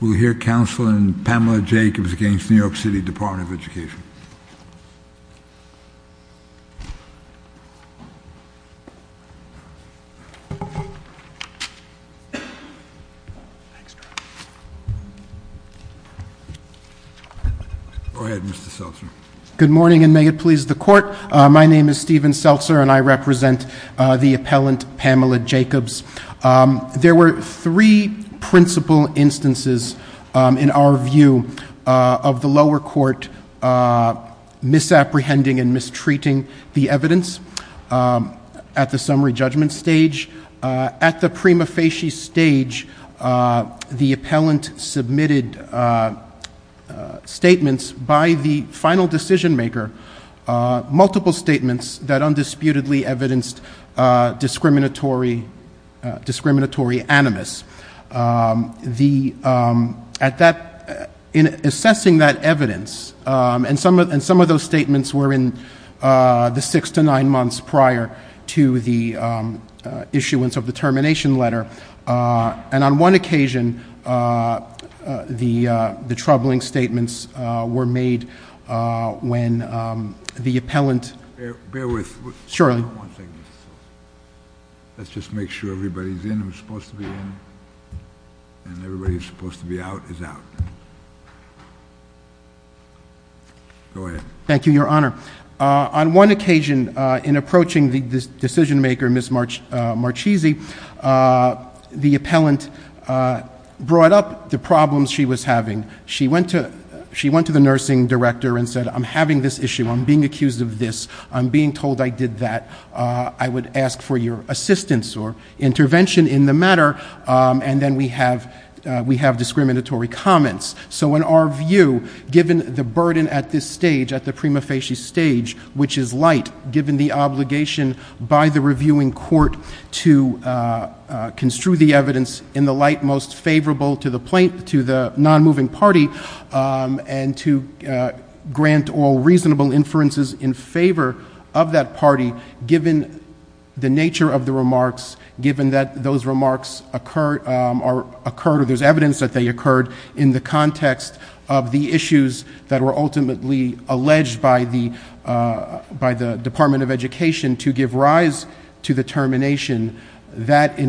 We'll hear counsel in Pamela Jacobs against New York City Department of Education. Go ahead, Mr. Seltzer. Good morning, and may it please the court. My name is Steven Seltzer, and I represent the appellant Pamela Jacobs. There were three principal instances in our view of the lower court misapprehending and mistreating the evidence at the summary judgment stage. At the prima facie stage, the appellant submitted statements by the final decision maker, multiple statements that undisputedly evidenced discriminatory animus, in assessing that evidence, and some of those statements were in the six to nine months prior to the issuance of the termination letter, and on one occasion, the troubling statements were made when the appellant Bear with me one second. Let's just make sure everybody's in who's supposed to be in, and everybody who's supposed to be out is out. Go ahead. Thank you, Your Honor. On one occasion, in approaching the decision maker, Ms. Marchese, the appellant brought up the problems she was having. She went to the nursing director and said, I'm having this issue, I'm being accused of this, I'm being told I did that. I would ask for your assistance or intervention in the matter, and then we have discriminatory comments. So in our view, given the burden at this stage, at the prima facie stage, which is light, given the obligation by the reviewing court to construe the evidence in the light most favorable to the non-moving party, and to grant all reasonable inferences in favor of that party, given the nature of the remarks, given that those remarks occurred or there's evidence that they occurred in the context of the issues that were ultimately alleged by the Department of Education to give rise to the termination. That in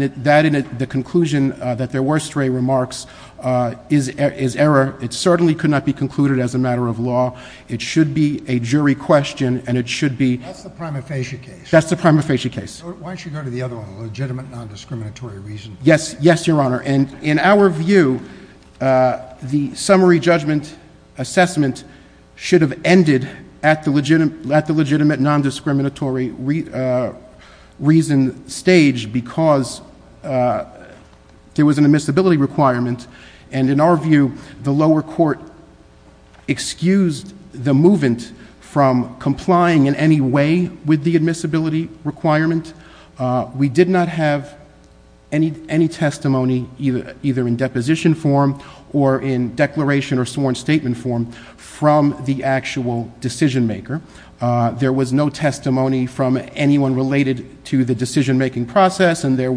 the conclusion that there were stray remarks is error. It certainly could not be concluded as a matter of law. It should be a jury question, and it should be- That's the prima facie case. That's the prima facie case. Why don't you go to the other one, the legitimate non-discriminatory reason. Yes, yes, Your Honor. And in our view, the summary judgment assessment should have ended at the legitimate non-discriminatory reason stage, because there was an admissibility requirement. And in our view, the lower court excused the movement from complying in any way with the admissibility requirement. We did not have any testimony, either in deposition form or in declaration or sworn statement form, from the actual decision maker. There was no testimony from anyone related to the decision-making process, and there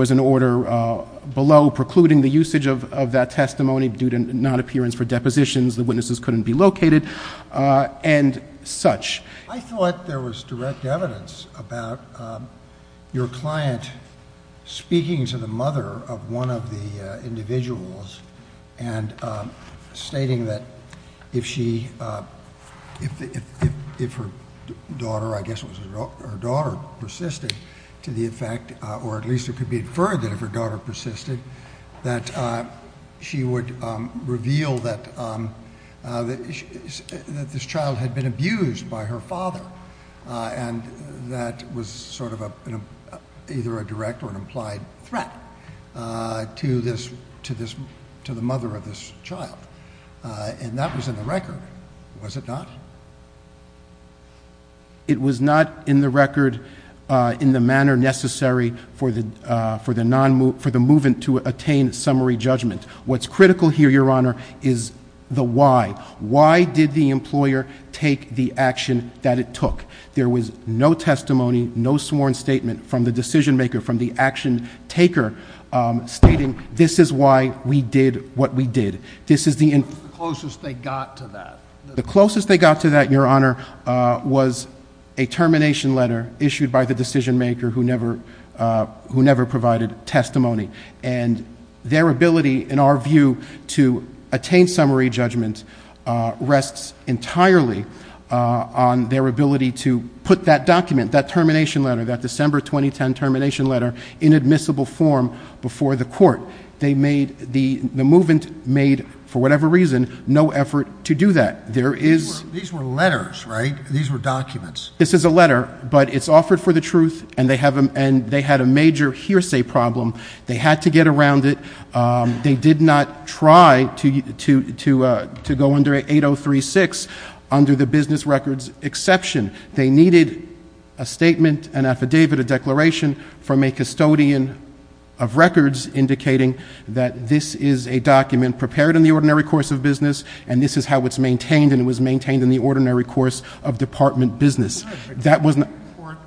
was an order below precluding the usage of that testimony, due to non-appearance for depositions. The witnesses couldn't be located, and such. I thought there was direct evidence about your client speaking to the mother of one of the individuals, and stating that if her daughter, I guess it was her daughter, persisted to the effect, or at least it could be inferred that if her daughter persisted, that she would reveal that this child had been abused by her father. And that was sort of either a direct or an implied threat to the mother of this child. And that was in the record, was it not? It was not in the record in the manner necessary for the movement to attain summary judgment. What's critical here, Your Honor, is the why. Why did the employer take the action that it took? There was no testimony, no sworn statement from the decision maker, from the action taker, stating this is why we did what we did. This is the- The closest they got to that. The closest they got to that, Your Honor, was a termination letter issued by the decision maker, who never provided testimony. And their ability, in our view, to attain summary judgment rests entirely on their ability to put that document, that termination letter, that December 2010 termination letter, in admissible form before the court. They made, the movement made, for whatever reason, no effort to do that. There is- These were letters, right? These were documents. This is a letter, but it's offered for the truth, and they had a major hearsay problem. They had to get around it. They did not try to go under 8036 under the business records exception. They needed a statement, an affidavit, a declaration from a custodian of records indicating that this is a document prepared in the ordinary course of business. And this is how it's maintained, and it was maintained in the ordinary course of department business. That was- Can't a court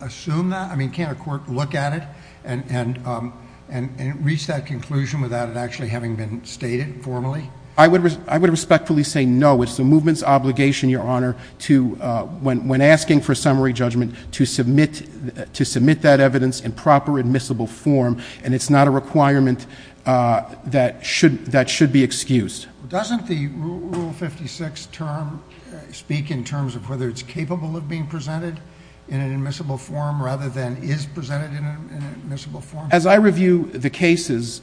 assume that? I mean, can't a court look at it? And reach that conclusion without it actually having been stated formally? I would respectfully say no. It's the movement's obligation, your honor, to, when asking for summary judgment, to submit that evidence in proper admissible form. And it's not a requirement that should be excused. Doesn't the Rule 56 term speak in terms of whether it's capable of being in admissible form? As I review the cases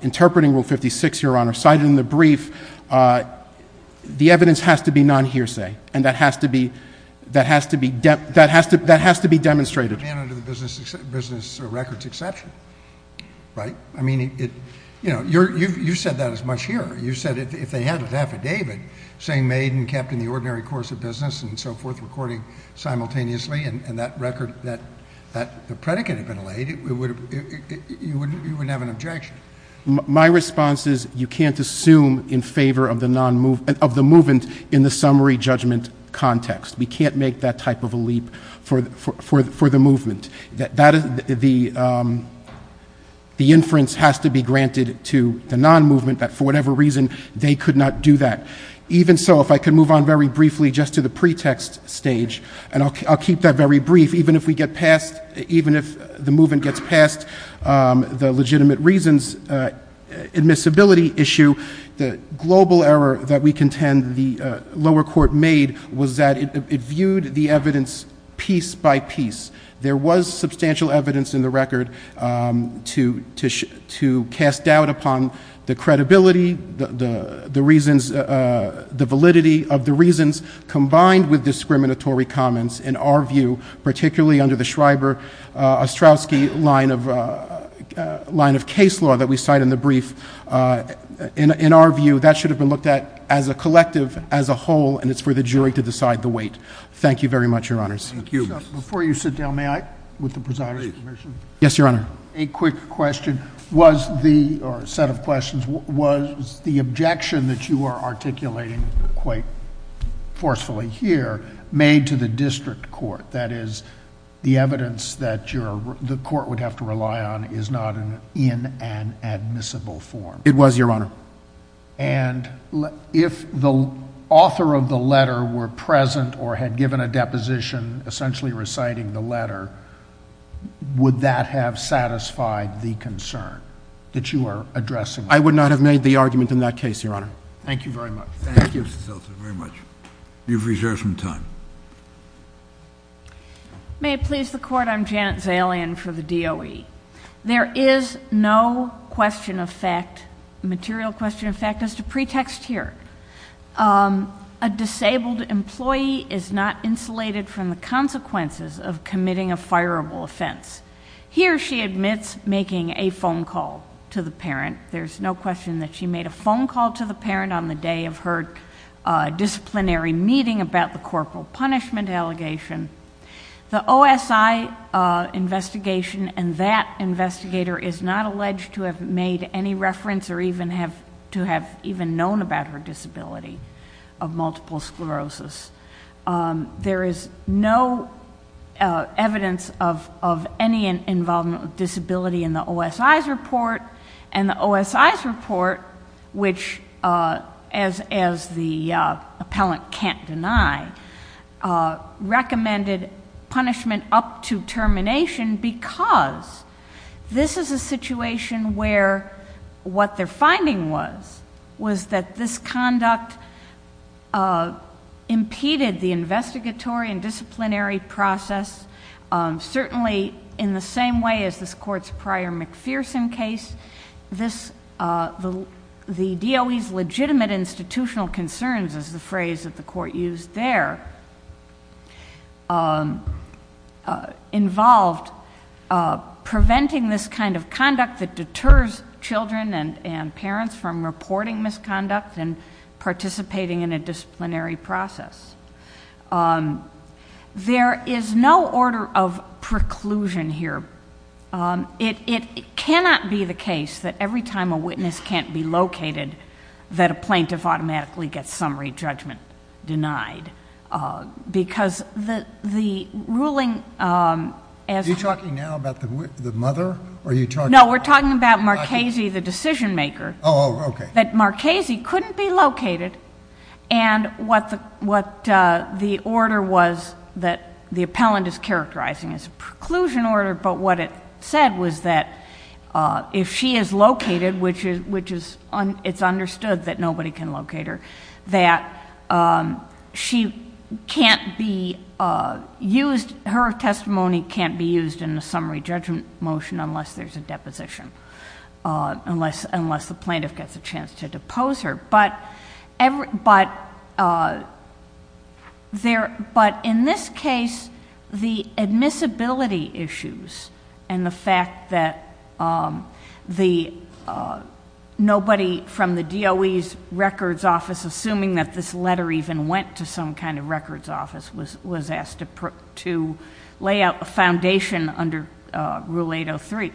interpreting Rule 56, your honor, cited in the brief, the evidence has to be non-hearsay, and that has to be demonstrated. Under the business records exception, right? I mean, you said that as much here. You said if they had an affidavit saying made and kept in the ordinary course of business and so forth, recording simultaneously, and that record, that the predicate had been laid, you wouldn't have an objection. My response is, you can't assume in favor of the movement in the summary judgment context. We can't make that type of a leap for the movement. The inference has to be granted to the non-movement that for whatever reason, they could not do that. Even so, if I could move on very briefly just to the pretext stage, and I'll keep that very brief, even if the movement gets past the legitimate reasons admissibility issue. The global error that we contend the lower court made was that it viewed the evidence piece by piece. There was substantial evidence in the record to cast doubt upon the credibility, the validity of the reasons combined with discriminatory comments in our view, particularly under the Schreiber-Ostrowski line of case law that we cite in the brief. In our view, that should have been looked at as a collective, as a whole, and it's for the jury to decide the weight. Thank you very much, your honors. Thank you. Before you sit down, may I? With the presiding commission? Yes, your honor. A quick question, was the, or a set of questions, was the objection that you are articulating quite forcefully here made to the district court? That is, the evidence that the court would have to rely on is not in an admissible form. It was, your honor. And if the author of the letter were present or had given a deposition essentially reciting the letter, would that have satisfied the concern that you are addressing? I would not have made the argument in that case, your honor. Thank you very much. Thank you, Mr. Seltzer, very much. You've reserved some time. May it please the court, I'm Janet Zalian for the DOE. There is no question of fact, material question of fact, as to pretext here. A disabled employee is not insulated from the consequences of committing a fireable offense. Here she admits making a phone call to the parent. There's no question that she made a phone call to the parent on the day of her disciplinary meeting about the corporal punishment allegation. The OSI investigation and that investigator is not alleged to have made any reference or to have even known about her disability of multiple sclerosis. There is no evidence of any involvement of disability in the OSI's report. And the OSI's report, which, as the appellant can't deny, recommended punishment up to termination because this is a situation where what they're finding was, was that this conduct impeded the investigatory and disciplinary process. Certainly, in the same way as this court's prior McPherson case, the DOE's legitimate institutional concerns, as the phrase that the court used there, involved preventing this kind of conduct that deters children and parents from reporting misconduct and participating in a disciplinary process. There is no order of preclusion here. It cannot be the case that every time a witness can't be located, that a plaintiff automatically gets summary judgment denied, because the, the ruling as- Are you talking now about the, the mother? Or are you talking- No, we're talking about Marchese, the decision maker. Oh, okay. That Marchese couldn't be located, and what the, what the order was that the appellant is characterizing as a preclusion order, but what it said was that if she is located, which is, which is, it's understood that nobody can locate her, that she can't be used, her testimony can't be used in the summary judgment motion, unless there's a deposition, unless, unless the plaintiff gets a chance to depose her. But every, but there, but in this case, the admissibility issues and the fact that the, nobody from the DOE's records office, assuming that this letter even went to some kind of records office, was, was asked to put, to lay out a foundation under Rule 803.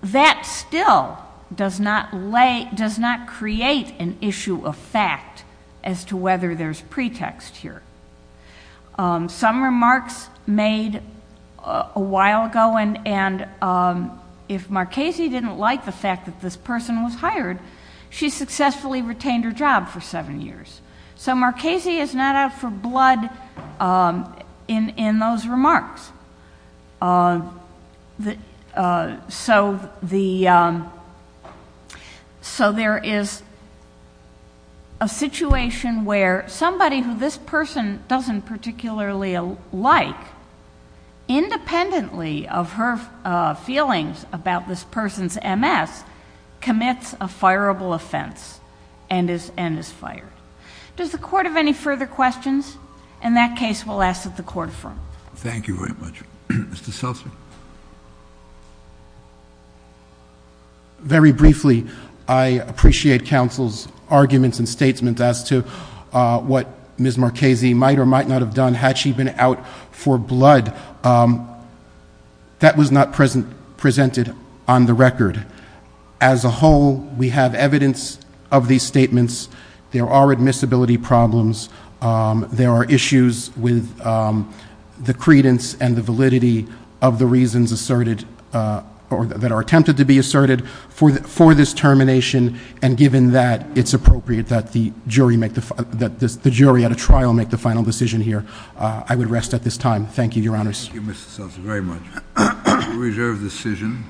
That still does not lay, does not create an issue of fact as to whether there's pretext here. Some remarks made a while ago, and, and, if Marchese didn't like the fact that this person was hired, she successfully retained her job for seven years. So Marchese is not out for blood in, in those remarks. The, so the, so there is a situation where somebody who this person hired, doesn't particularly like, independently of her feelings about this person's MS, commits a fireable offense, and is, and is fired. Does the court have any further questions? In that case, we'll ask that the court affirm. Thank you very much. Mr. Selzer? Very briefly, I appreciate counsel's arguments and questions as to whether Marchese might or might not have done, had she been out for blood. That was not present, presented on the record. As a whole, we have evidence of these statements. There are admissibility problems. There are issues with the credence and the validity of the reasons asserted, or that are attempted to be asserted for this termination. And given that it's appropriate that the jury make the, that the jury at a trial make the final decision here, I would rest at this time. Thank you, your honors. Thank you, Mr. Selzer, very much. Reserve decision.